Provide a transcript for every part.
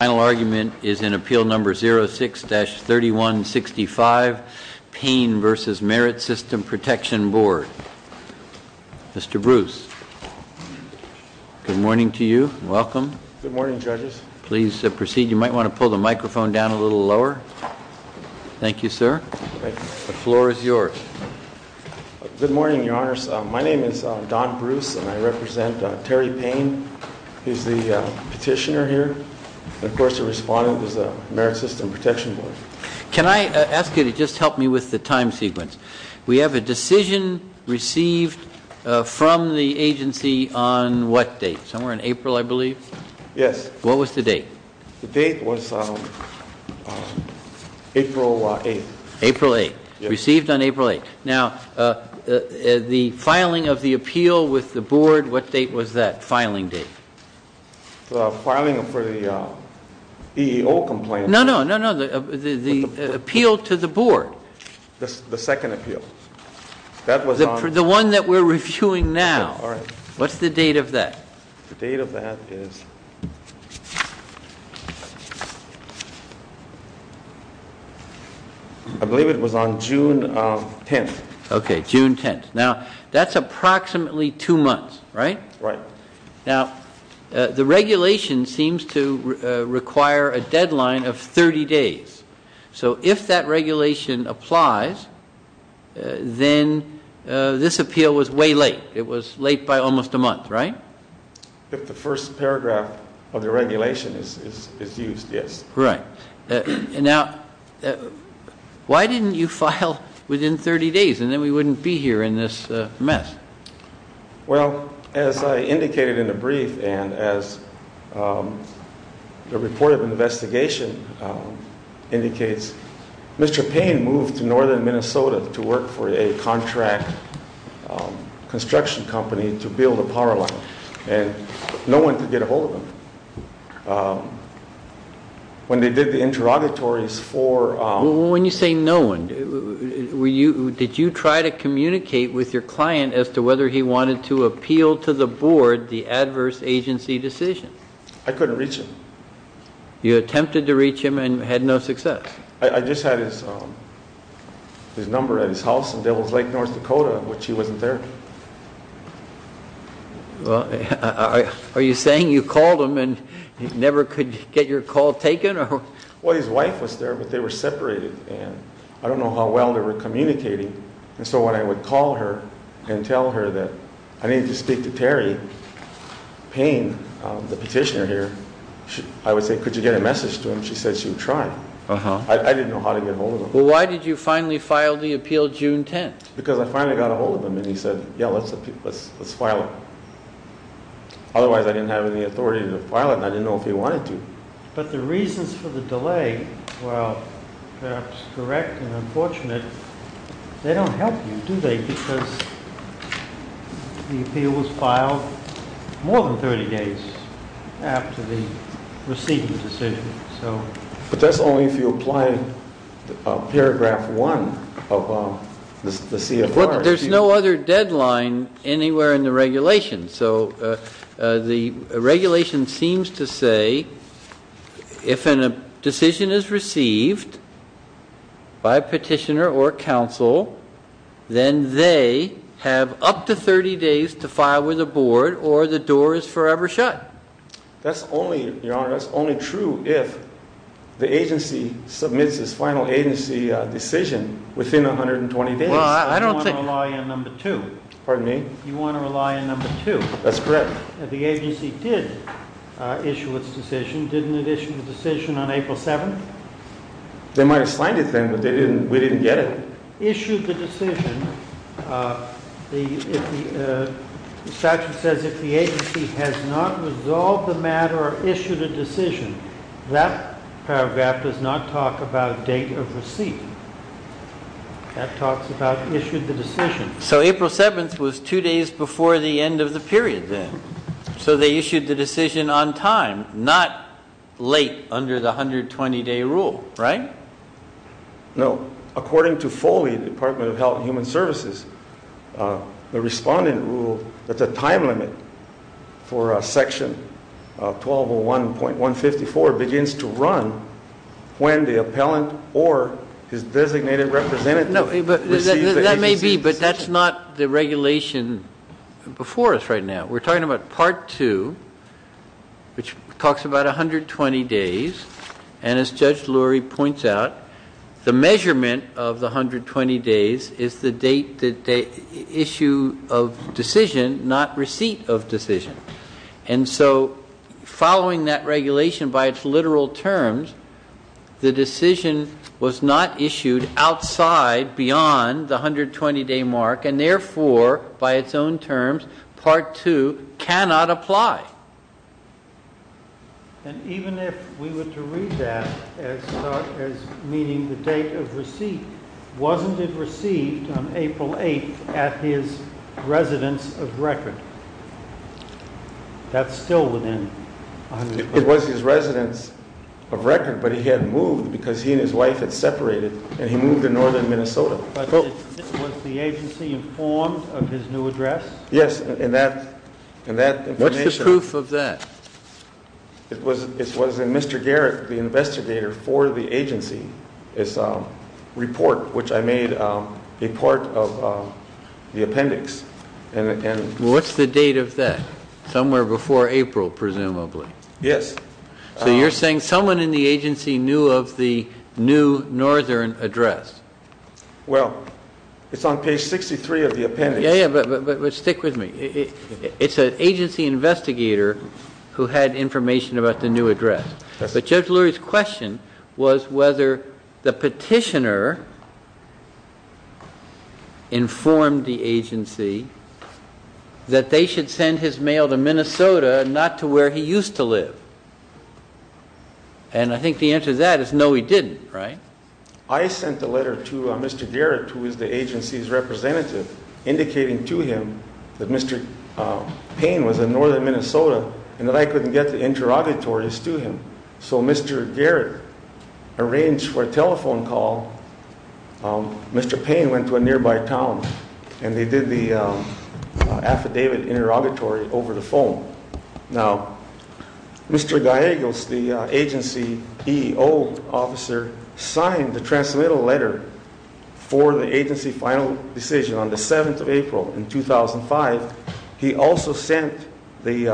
The final argument is in Appeal No. 06-3165, Paine v. Merit System Protection Board. Mr. Bruce, good morning to you. Welcome. Good morning, judges. Please proceed. You might want to pull the microphone down a little lower. Thank you, sir. The floor is yours. Good morning, your honors. My name is Don Bruce, and I represent Terry Paine. He's the petitioner here, and of course, the respondent is the Merit System Protection Board. Can I ask you to just help me with the time sequence? We have a decision received from the agency on what date? Somewhere in April, I believe? Yes. What was the date? The date was April 8th. April 8th. Received on April 8th. Now, the filing of the appeal with the board, what date was that, filing date? Filing for the EEO complaint. No, no, no, no, the appeal to the board. The second appeal. That was on. The one that we're reviewing now. All right. What's the date of that? The date of that is, I believe it was on June 10th. OK, June 10th. Now, that's approximately two months, right? Right. Now, the regulation seems to require a deadline of 30 days. So if that regulation applies, then this appeal was way late. It was late by almost a month, right? If the first paragraph of the regulation is used, yes. Right. Now, why didn't you file within 30 days, and then we wouldn't be here in this mess? Well, as I indicated in the brief, and as the report of investigation indicates, Mr. Payne moved to northern Minnesota to work for a contract construction company to build a power line. And no one could get a hold of him. When they did the interrogatories for. When you say no one, did you try to communicate with your client as to whether he wanted to appeal to the board the adverse agency decision? I couldn't reach him. You attempted to reach him and had no success? I just had his number at his house in Devil's Lake, North Dakota, which he wasn't there. Well, are you saying you called him and he never could get your call taken? Well, his wife was there, but they were separated. And I don't know how well they were communicating. And so when I would call her and tell her that I need to speak to Terry Payne, the petitioner here, I would say, could you get a message to him? She said she would try. I didn't know how to get a hold of him. Well, why did you finally file the appeal June 10? Because I finally got a hold of him, and he said, yeah, let's file it. Otherwise, I didn't have any authority to file it, and I didn't know if he wanted to. But the reasons for the delay were perhaps correct and unfortunate. They don't help you, do they, because the appeal was filed more than 30 days after the receiving decision. But that's only if you apply paragraph 1 of the CFR. There's no other deadline anywhere in the regulation. So the regulation seems to say, if a decision is received by a petitioner or counsel, then they have up to 30 days to file with the board, or the door is forever shut. That's only, your honor, that's only true if the agency submits its final agency decision within 120 days. Well, I don't think. You want to rely on number 2. Pardon me? You want to rely on number 2. That's correct. The agency did issue its decision. Didn't it issue the decision on April 7? They might have signed it then, but we didn't get it. Issued the decision. Statute says, if the agency has not resolved the matter or issued a decision, that paragraph does not talk about date of receipt. That talks about issued the decision. So April 7th was 2 days before the end of the period then. So they issued the decision on time, not late under the 120-day rule, right? No. According to Foley, Department of Health and Human Services, the respondent rule that the time limit for section 1201.154 begins to run when the appellant or his designated representative receives the agency's decision. But that's not the regulation before us right now. We're talking about part 2, which talks about 120 days. And as Judge Lurie points out, the measurement of the 120 days is the date that they issue of decision, not receipt of decision. And so following that regulation by its literal terms, the decision was not issued outside beyond the 120-day mark and therefore, by its own terms, part 2 cannot apply. And even if we were to read that as meaning the date of receipt, wasn't it received on April 8th at his residence of record? That's still within 120 days. It was his residence of record, but he had moved because he and his wife had separated. And he moved to northern Minnesota. But was the agency informed of his new address? Yes, and that information. What's the proof of that? It was in Mr. Garrett, the investigator for the agency, his report, which I made a part of the appendix. What's the date of that? Somewhere before April, presumably. Yes. So you're saying someone in the agency knew of the new northern address? Well, it's on page 63 of the appendix. Yeah, but stick with me. It's an agency investigator who had information about the new address. But Judge Lurie's question was whether the petitioner informed the agency that they should send his mail to Minnesota, not to where he used to live. And I think the answer to that is no, he didn't, right? I sent a letter to Mr. Garrett, who is the agency's representative, indicating to him that Mr. Payne was in northern Minnesota and that I couldn't get the interrogatories to him. So Mr. Garrett arranged for a telephone call. Mr. Payne went to a nearby town. And they did the affidavit interrogatory over the phone. Now, Mr. Gallegos, the agency EEO officer, signed the transmittal letter for the agency final decision on the 7th of April in 2005. He also sent the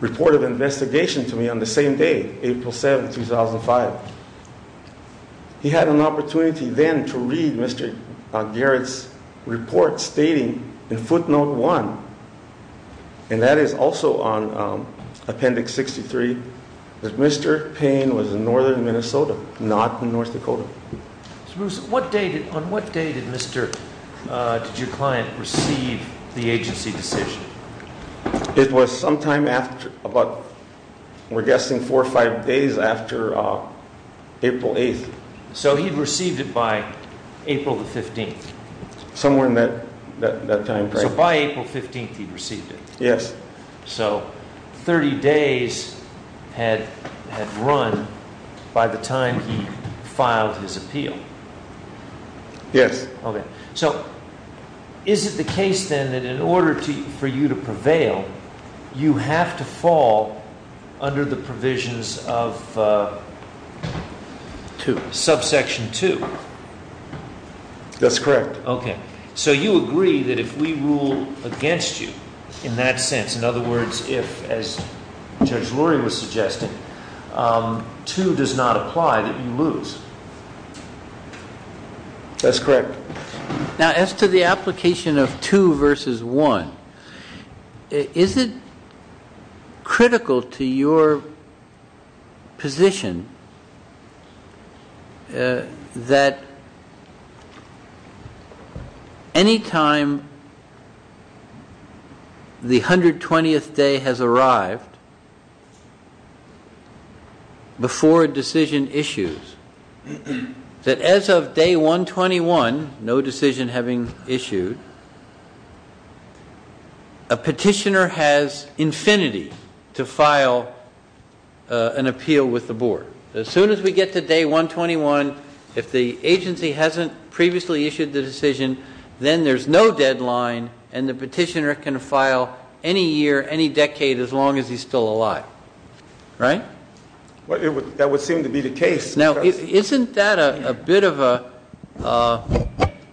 report of investigation to me on the same day, April 7, 2005. He had an opportunity then to read Mr. Garrett's report stating in footnote one, and that is also on appendix 63, that Mr. Payne was in northern Minnesota, not in North Dakota. Mr. Bruce, on what date did your client receive the agency decision? It was sometime after about, we're April 8th. So he received it by April the 15th. Somewhere in that time frame. So by April 15th, he'd received it. Yes. So 30 days had run by the time he filed his appeal. Yes. You have to fall under the provisions of subsection 2. That's correct. OK. So you agree that if we rule against you in that sense, in other words, if, as Judge Lurie was suggesting, 2 does not apply, that you lose. That's correct. Now, as to the application of 2 versus 1, is it critical to your position that any time the 120th day has arrived before a decision issues, that as of day 121, no decision having issued, a petitioner has infinity to file an appeal with the board. As soon as we get to day 121, if the agency hasn't previously issued the decision, then there's no deadline and the petitioner can file any year, any decade, as long as he's still alive. Right? That would seem to be the case. Now, isn't that a bit of an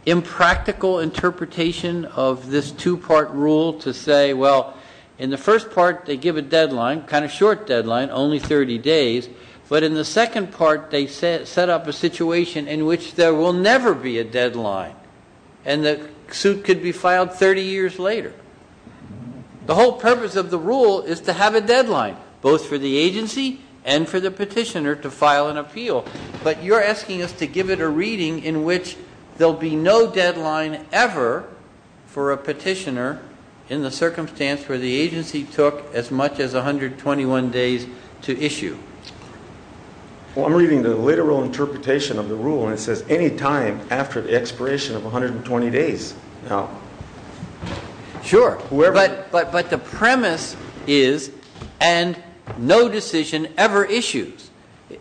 impractical interpretation of this two-part rule to say, well, in the first part, they give a deadline, kind of short deadline, only 30 days. But in the second part, they set up a situation in which there will never be a deadline and the suit could be filed 30 years later. The whole purpose of the rule is to have a deadline, both for the agency and for the petitioner to file an appeal. But you're asking us to give it a reading in which there'll be no deadline ever for a petitioner in the circumstance where the agency took as much as 121 days to issue. Well, I'm reading the literal interpretation of the rule and it says any time after the expiration of 120 days. Sure. But the premise is and no decision ever issues.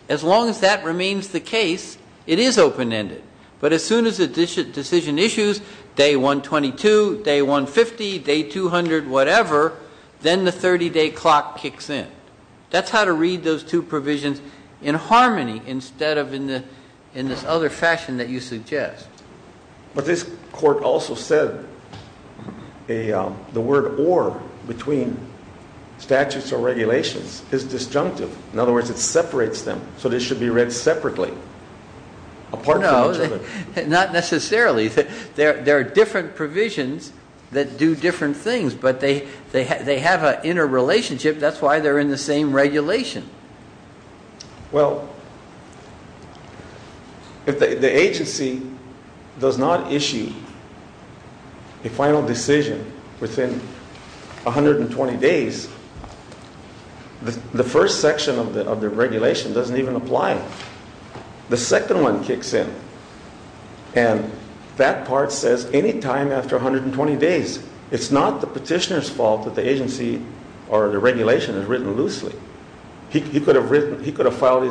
As long as that remains the case, it is open-ended. But as soon as a decision issues, day 122, day 150, day 200, whatever, then the 30-day clock kicks in. That's how to read those two provisions in harmony instead of in this other fashion that you suggest. But this court also said the word or between statutes or regulations is disjunctive. In other words, it separates them. So they should be read separately apart from each other. Not necessarily. There are different provisions that do different things. But they have an inner relationship. That's why they're in the same regulation. Well, if the agency does not issue a final decision within 120 days, the first section of the regulation doesn't even apply. The second one kicks in. And that part says any time after 120 days. It's not the petitioner's fault that the agency or the regulation is written loosely. He could have written, he could have filed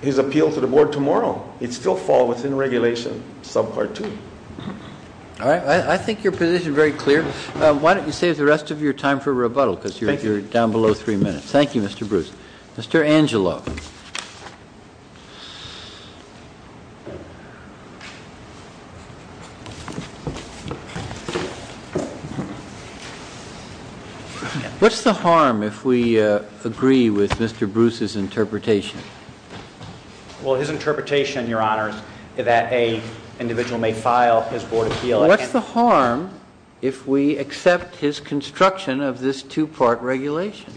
his appeal to the board tomorrow. It still fall within regulation, sub part 2. All right, I think your position is very clear. Why don't you save the rest of your time for rebuttal because you're down below 3 minutes. Thank you, Mr. Bruce. Mr. Angelo. What's the harm if we agree with Mr. Bruce's interpretation? Well, his interpretation, your honor, that an individual may file his board appeal. What's the harm if we accept his construction of this two-part regulation?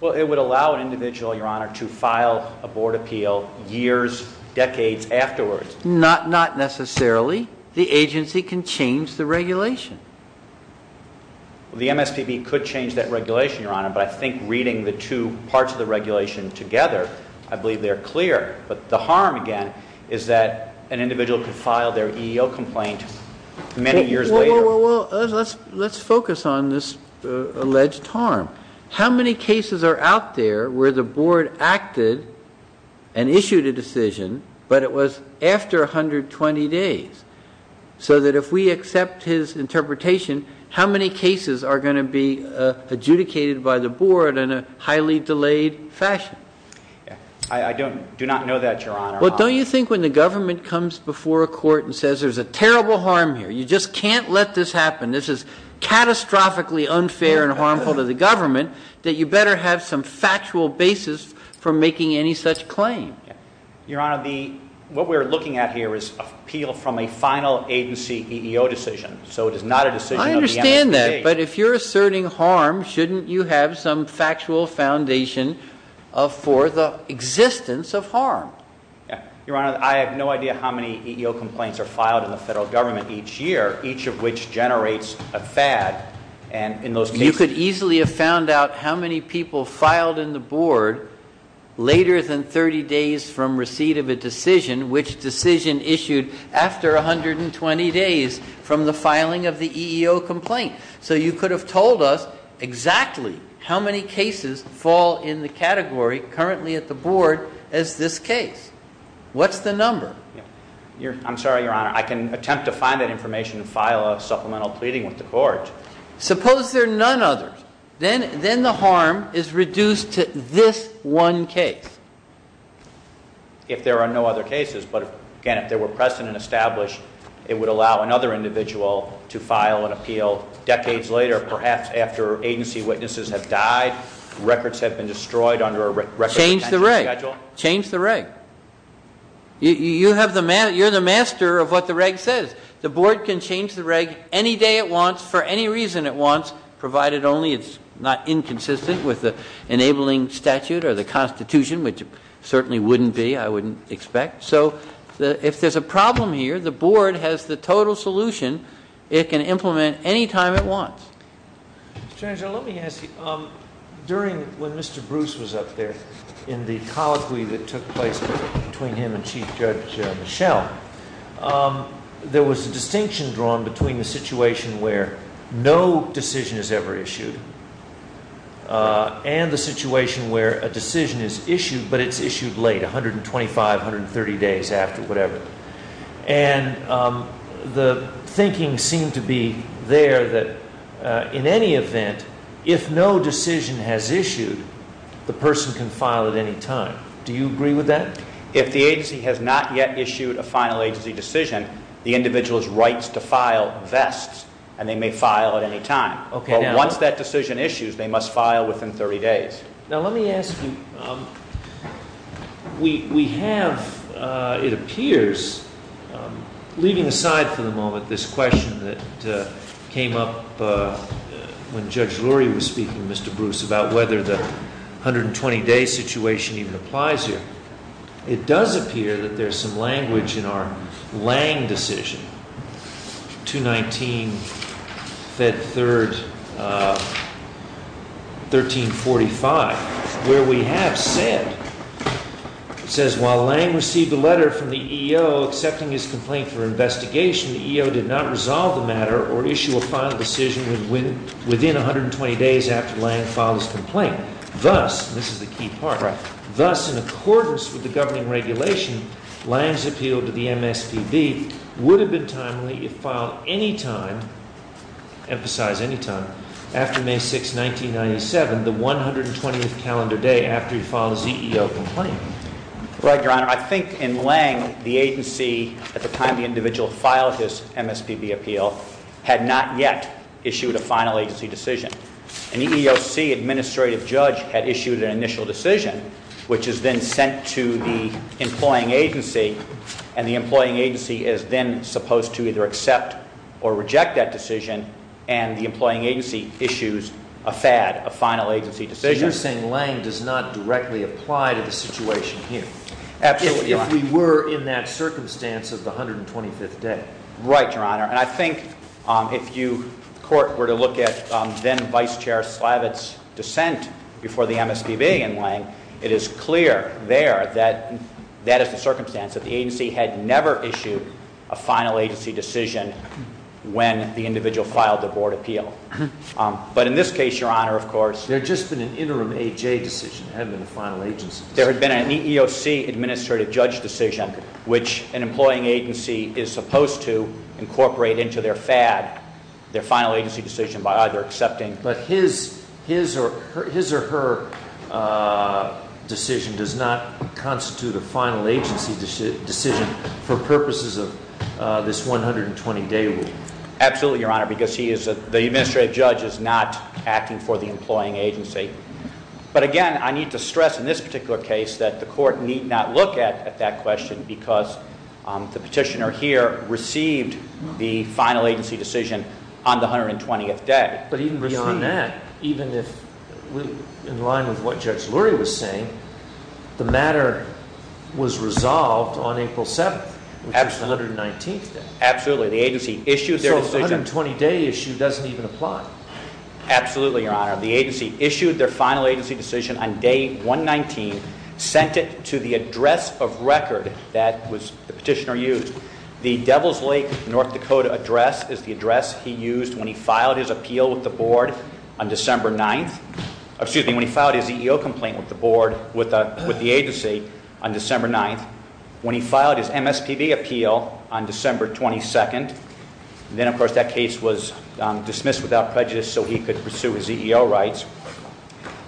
Well, it would allow an individual, your honor, to file a board appeal years, decades afterwards. Not necessarily. The agency can change the regulation. The MSPB could change that regulation, your honor, but I think reading the two parts of the regulation together, I believe they're clear. But the harm, again, is that an individual could file their EEO complaint many years later. Well, let's focus on this alleged harm. How many cases are out there where the board acted and issued a decision, but it was after 120 days? So that if we accept his interpretation, how many cases are going to be adjudicated by the board in a highly delayed fashion? I do not know that, your honor. Well, don't you think when the government comes before a court and says there's a terrible harm here, you just can't let this happen, this is catastrophically unfair and harmful to the government, that you better have some factual basis for making any such claim? Your honor, what we're looking at here is appeal from a final agency EEO decision. So it is not a decision of the MSPB. I understand that, but if you're asserting harm, shouldn't you have some factual foundation for the existence of harm? Your honor, I have no idea how many EEO complaints are filed in the federal government each year, each of which generates a fad. You could easily have found out how many people filed in the board later than 30 days from receipt of a decision, which decision issued after 120 days from the filing of the EEO complaint. So you could have told us exactly how many cases fall in the category currently at the board as this case. What's the number? I'm sorry, your honor. I can attempt to find that information and file a supplemental pleading with the court. Suppose there are none others. Then the harm is reduced to this one case. If there are no other cases, but again, if there were precedent established, it would allow another individual to file an appeal decades later, perhaps after agency witnesses have died, records have been destroyed under a record of a country schedule. Change the reg. You're the master of what the reg says. The board can change the reg any day it wants for any reason it wants provided only it's not inconsistent with the enabling statute or the constitution, which certainly wouldn't be, I wouldn't expect. So if there's a problem here, the board has the total solution. It can implement any time it wants. Senator, let me ask you, during when Mr. Bruce was up there in the colloquy that took place between him and Chief Judge Michelle, there was a distinction drawn between the situation where no decision is ever issued and the situation where a decision is issued, but it's issued late, 125, 130 days after, whatever. And the thinking seemed to be there that in any event, if no decision has issued, the person can file at any time. Do you agree with that? If the agency has not yet issued a final agency decision, the individual's rights to file vests, and they may file at any time. But once that decision issues, they must file within 30 days. Now let me ask you, we have, it appears, leaving aside for the moment this question that came up when Judge Lurie was speaking to Mr. Bruce about whether the 120-day situation even applies here, it does appear that there's some language in our Lange decision, 219, Fed 3rd, 1345, where we have said, it says, while Lange received a letter from the EEO accepting his complaint for investigation, the EEO did not resolve the matter or issue a final decision within 120 days after Lange filed his complaint. Thus, this is the key part, thus in accordance with the governing regulation, Lange's appeal to the MSPB would have been timely if filed any time, emphasize any time, after May 6, 1997, the 120th calendar day after he filed his EEO complaint. Right, Your Honor. I think in Lange, the agency, at the time the individual filed his MSPB appeal, had not yet issued a final agency decision. An EEOC administrative judge had issued an initial decision, which has been sent to the employing agency. And the employing agency is then supposed to either accept or reject that decision. And the employing agency issues a FAD, a final agency decision. So you're saying Lange does not directly apply to the situation here. Absolutely, Your Honor. If we were in that circumstance of the 125th day. Right, Your Honor. And I think if you were to look at then Vice Chair Slavitt's dissent before the MSPB in Lange, it is clear there that that is the circumstance, that the agency had never issued a final agency decision when the individual filed the board appeal. But in this case, Your Honor, of course. There had just been an interim AJ decision, it hadn't been a final agency decision. There had been an EEOC administrative judge decision, which an employing agency is supposed to incorporate into their FAD, their final agency decision by either accepting. But his or her decision does not constitute a final agency decision for purposes of this 120 day rule. Absolutely, Your Honor, because the administrative judge is not acting for the employing agency. But again, I need to stress in this particular case that the court need not look at that question because the petitioner here received the final agency decision on the 120th day. But even beyond that, even if in line with what Judge Lurie was saying, the matter was resolved on April 7th, which is the 119th day. Absolutely, the agency issued their decision. So a 120 day issue doesn't even apply. Absolutely, Your Honor. The agency issued their final agency decision on day 119, sent it to the address of record that the petitioner used. The Devil's Lake, North Dakota address is the address he used when he filed his appeal with the board on December 9th. Excuse me, when he filed his EEO complaint with the agency on December 9th. When he filed his MSPB appeal on December 22nd. Then, of course, that case was dismissed without prejudice so he could pursue his EEO rights.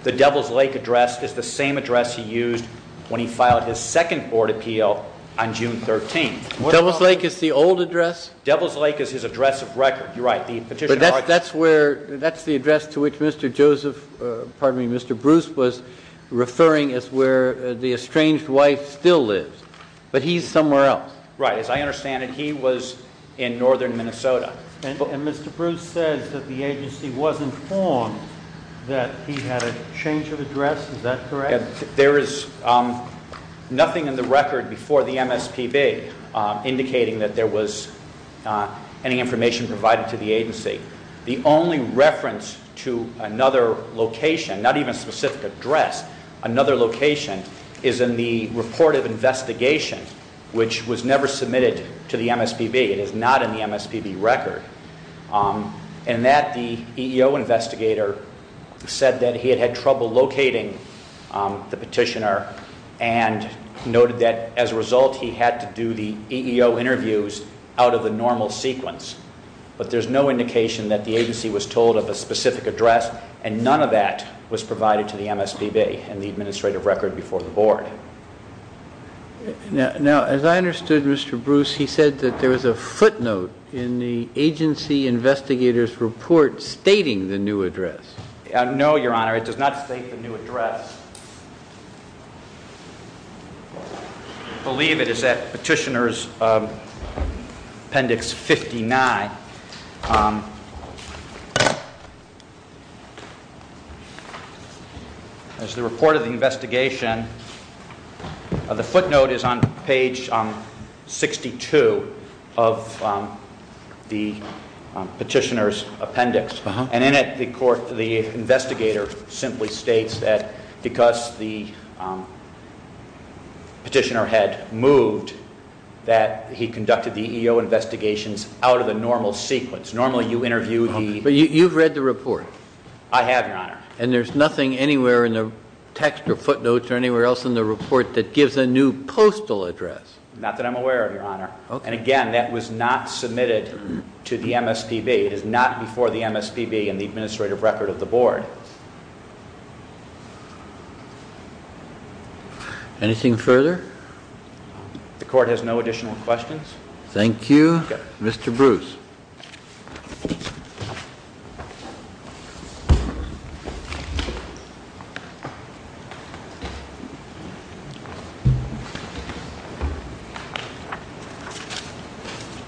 The Devil's Lake address is the same address he used when he filed his second board appeal on June 13th. Devil's Lake is the old address? Devil's Lake is his address of record. You're right, the petitioner argued. That's the address to which Mr. Joseph, pardon me, Mr. Bruce was referring as where the estranged wife still lives. But he's somewhere else. Right, as I understand it, he was in northern Minnesota. And Mr. Bruce said that the agency was informed that he had a change of address. Is that correct? There is nothing in the record before the MSPB indicating that there was any information provided to the agency. The only reference to another location, not even a specific address, another location is in the report of investigation, which was never submitted to the MSPB. It is not in the MSPB record. In that, the EEO investigator said that he had had trouble locating the petitioner and noted that as a result, he had to do the EEO interviews out of the normal sequence. But there's no indication that the agency was told of a specific address. And none of that was provided to the MSPB in the administrative record before the board. Now, as I understood Mr. Bruce, he investigator's report stating the new address. No, Your Honor. It does not state the new address. I believe it is at Petitioner's Appendix 59. There's the report of the investigation. And the footnote is on page 62 of the petitioner's appendix. And in it, the investigator simply states that because the petitioner had moved, that he conducted the EEO investigations out of the normal sequence. Normally, you interview the- But you've read the report. I have, Your Honor. And there's nothing anywhere in the text or footnotes or anywhere else in the report that gives a new postal address. Not that I'm aware of, Your Honor. And again, that was not submitted to the MSPB. It is not before the MSPB in the administrative record of the board. Anything further? The court has no additional questions. Thank you. Mr. Bruce.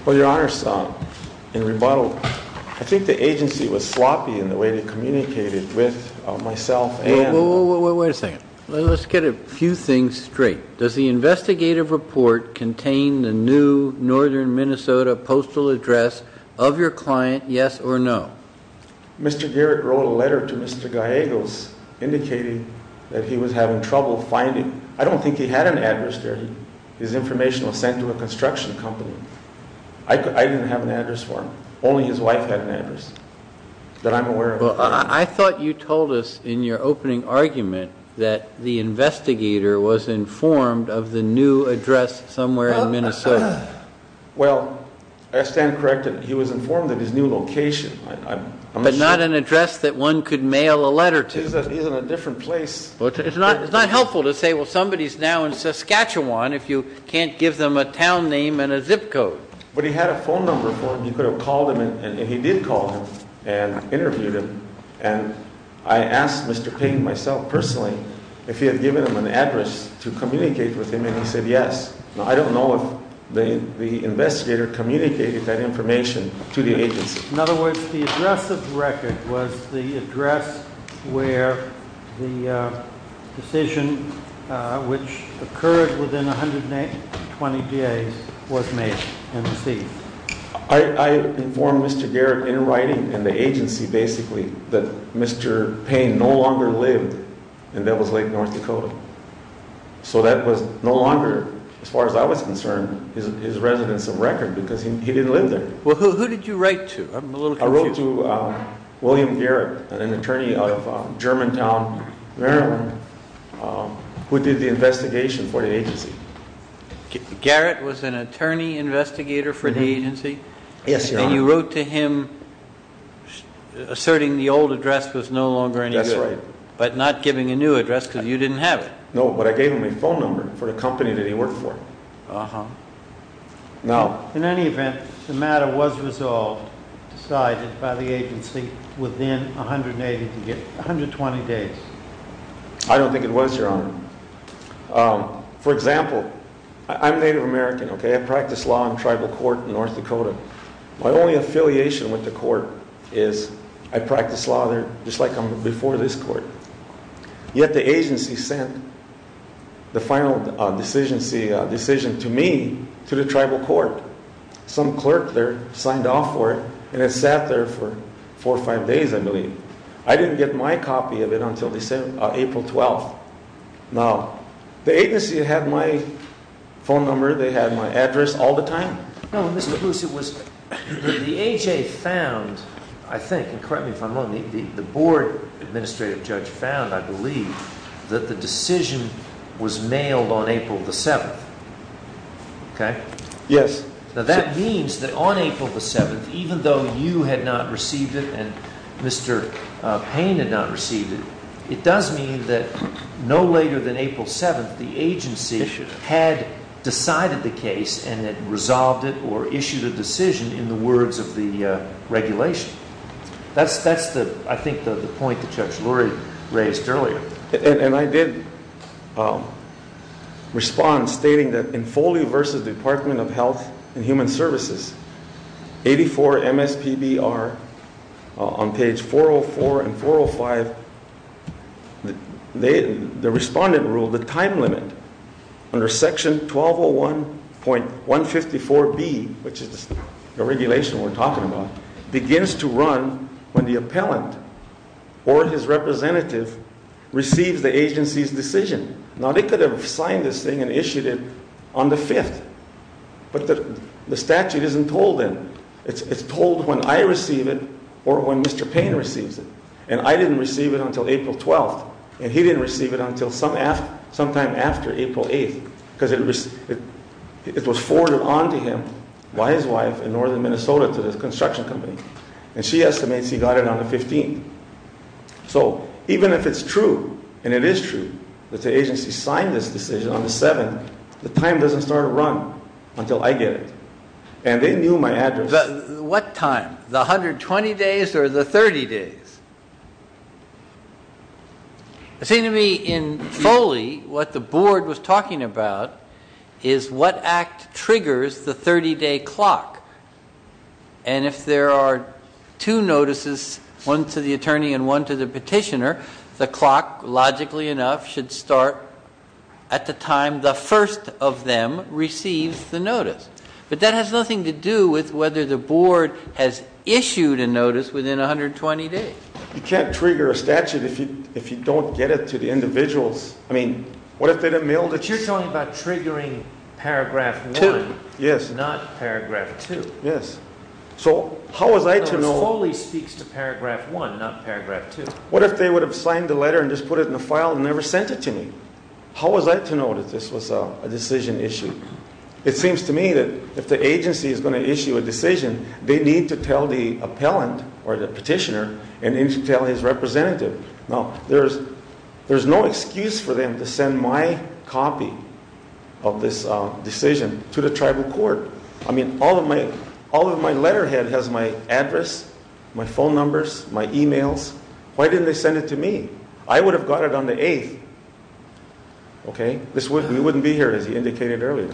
Well, Your Honor, in rebuttal, I think the agency was sloppy in the way they communicated with myself Whoa, whoa, whoa, wait a second. Let's get a few things straight. Does the investigative report contain the new northern Minnesota postal address of your client, yes or no? Mr. Garrett wrote a letter to Mr. Gallegos indicating that he was having trouble finding a new address. I don't think he had an address there. His information was sent to a construction company. I didn't have an address for him. Only his wife had an address that I'm aware of. I thought you told us in your opening argument that the investigator was informed of the new address somewhere in Minnesota. Well, I stand corrected. He was informed of his new location. But not an address that one could mail a letter to. He's in a different place. It's not helpful to say, well, somebody's now in Saskatchewan if you can't give them a town name and a zip code. But he had a phone number for him. You could have called him, and he did call him and interviewed him. And I asked Mr. Payne, myself personally, if he had given him an address to communicate with him, and he said yes. I don't know if the investigator communicated that information to the agency. In other words, the address of the record was the address where the decision, which occurred within 120 days, was made and received. I informed Mr. Garrett in writing and the agency, basically, that Mr. Payne no longer lived in Devil's Lake, North Dakota. So that was no longer, as far as I was concerned, his residence of record, because he didn't live there. Well, who did you write to? I'm a little confused. I wrote to William Garrett, an attorney of Germantown, Maryland, who did the investigation for the agency. Garrett was an attorney investigator for the agency? Yes, Your Honor. And you wrote to him, asserting the old address was no longer any good, but not giving a new address because you didn't have it? No, but I gave him a phone number for the company that he worked for. Now? In any event, the matter was resolved, decided by the agency within 120 days. I don't think it was, Your Honor. For example, I'm Native American, OK? I practice law in tribal court in North Dakota. My only affiliation with the court is I practice law there, just like I'm before this court. Yet the agency sent the final decision to me, to the tribal court. Some clerk there signed off for it, and it sat there for four or five days, I believe. I didn't get my copy of it until April 12th. Now, the agency had my phone number. They had my address all the time. No, Mr. Bruce, it was the AHA found, I think, and correct me if I'm wrong, the board administrative judge found, I believe, that the decision was mailed on April the 7th, OK? Yes. Now, that means that on April the 7th, even though you had not received it and Mr. Payne had not received it, it does mean that no later than April 7th, the agency had decided the case and had resolved it or issued a decision in the words of the regulation. That's, I think, the point that Judge Lurie raised earlier. And I did respond, stating that in Folio versus Department of Health and Human Services, 84 MSPBR on page 404 and 405, the respondent ruled the time limit under section 1201.154B, which is the regulation we're talking about, begins to run when the appellant or his representative receives the agency's decision. Now, they could have signed this thing and issued it on the 5th. But the statute isn't told then. It's told when I receive it or when Mr. Payne receives it. And I didn't receive it until April 12th. And he didn't receive it until sometime after April 8th, because it was forwarded on to him by his wife in northern Minnesota to the construction company. And she estimates he got it on the 15th. So even if it's true, and it is true, that the agency signed this decision on the 7th, the time doesn't start to run until I get it. And they knew my address. What time? The 120 days or the 30 days? It seemed to me in Foley, what the board was talking about is what act triggers the 30-day clock. And if there are two notices, one to the attorney and one to the petitioner, the clock, logically enough, should start at the time the first of them receives the notice. But that has nothing to do with whether the board has issued a notice within 120 days. You can't trigger a statute if you don't get it to the individuals. I mean, what if they didn't mail it? But you're talking about triggering paragraph 1. Yes. Not paragraph 2. Yes. So how was I to know? No, Foley speaks to paragraph 1, not paragraph 2. What if they would have signed the letter and just put it in a file and never sent it to me? How was I to know that this was a decision issue? It seems to me that if the agency is going to issue a decision, they need to tell the appellant or the petitioner and need to tell his representative. Now, there's no excuse for them to send my copy of this decision to the tribal court. I mean, all of my letterhead has my address, my phone numbers, my emails. Why didn't they send it to me? I would have got it on the 8th. Okay? We wouldn't be here, as he indicated earlier.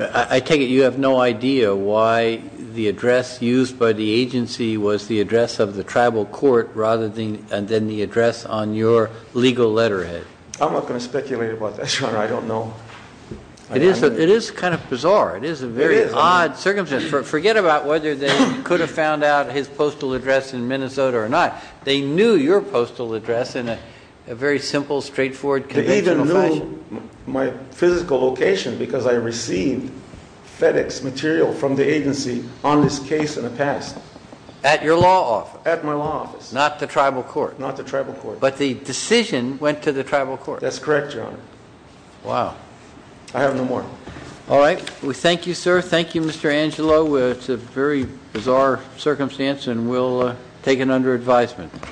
I take it you have no idea why the address used by the agency was the address of the tribal court rather than the address on your legal letterhead. I'm not going to speculate about that, Your Honor. I don't know. It is kind of bizarre. It is a very odd circumstance. Forget about whether they could have found out his postal address in Minnesota or not. They knew your postal address in a very simple, straightforward, conventional fashion. They even knew my physical location because I received FedEx material from the agency on this case in the past. At your law office. At my law office. Not the tribal court. Not the tribal court. But the decision went to the tribal court. That's correct, Your Honor. Wow. I have no more. All right. We thank you, sir. Thank you, Mr. Angelo. It's a very bizarre circumstance and we'll take it under advisement.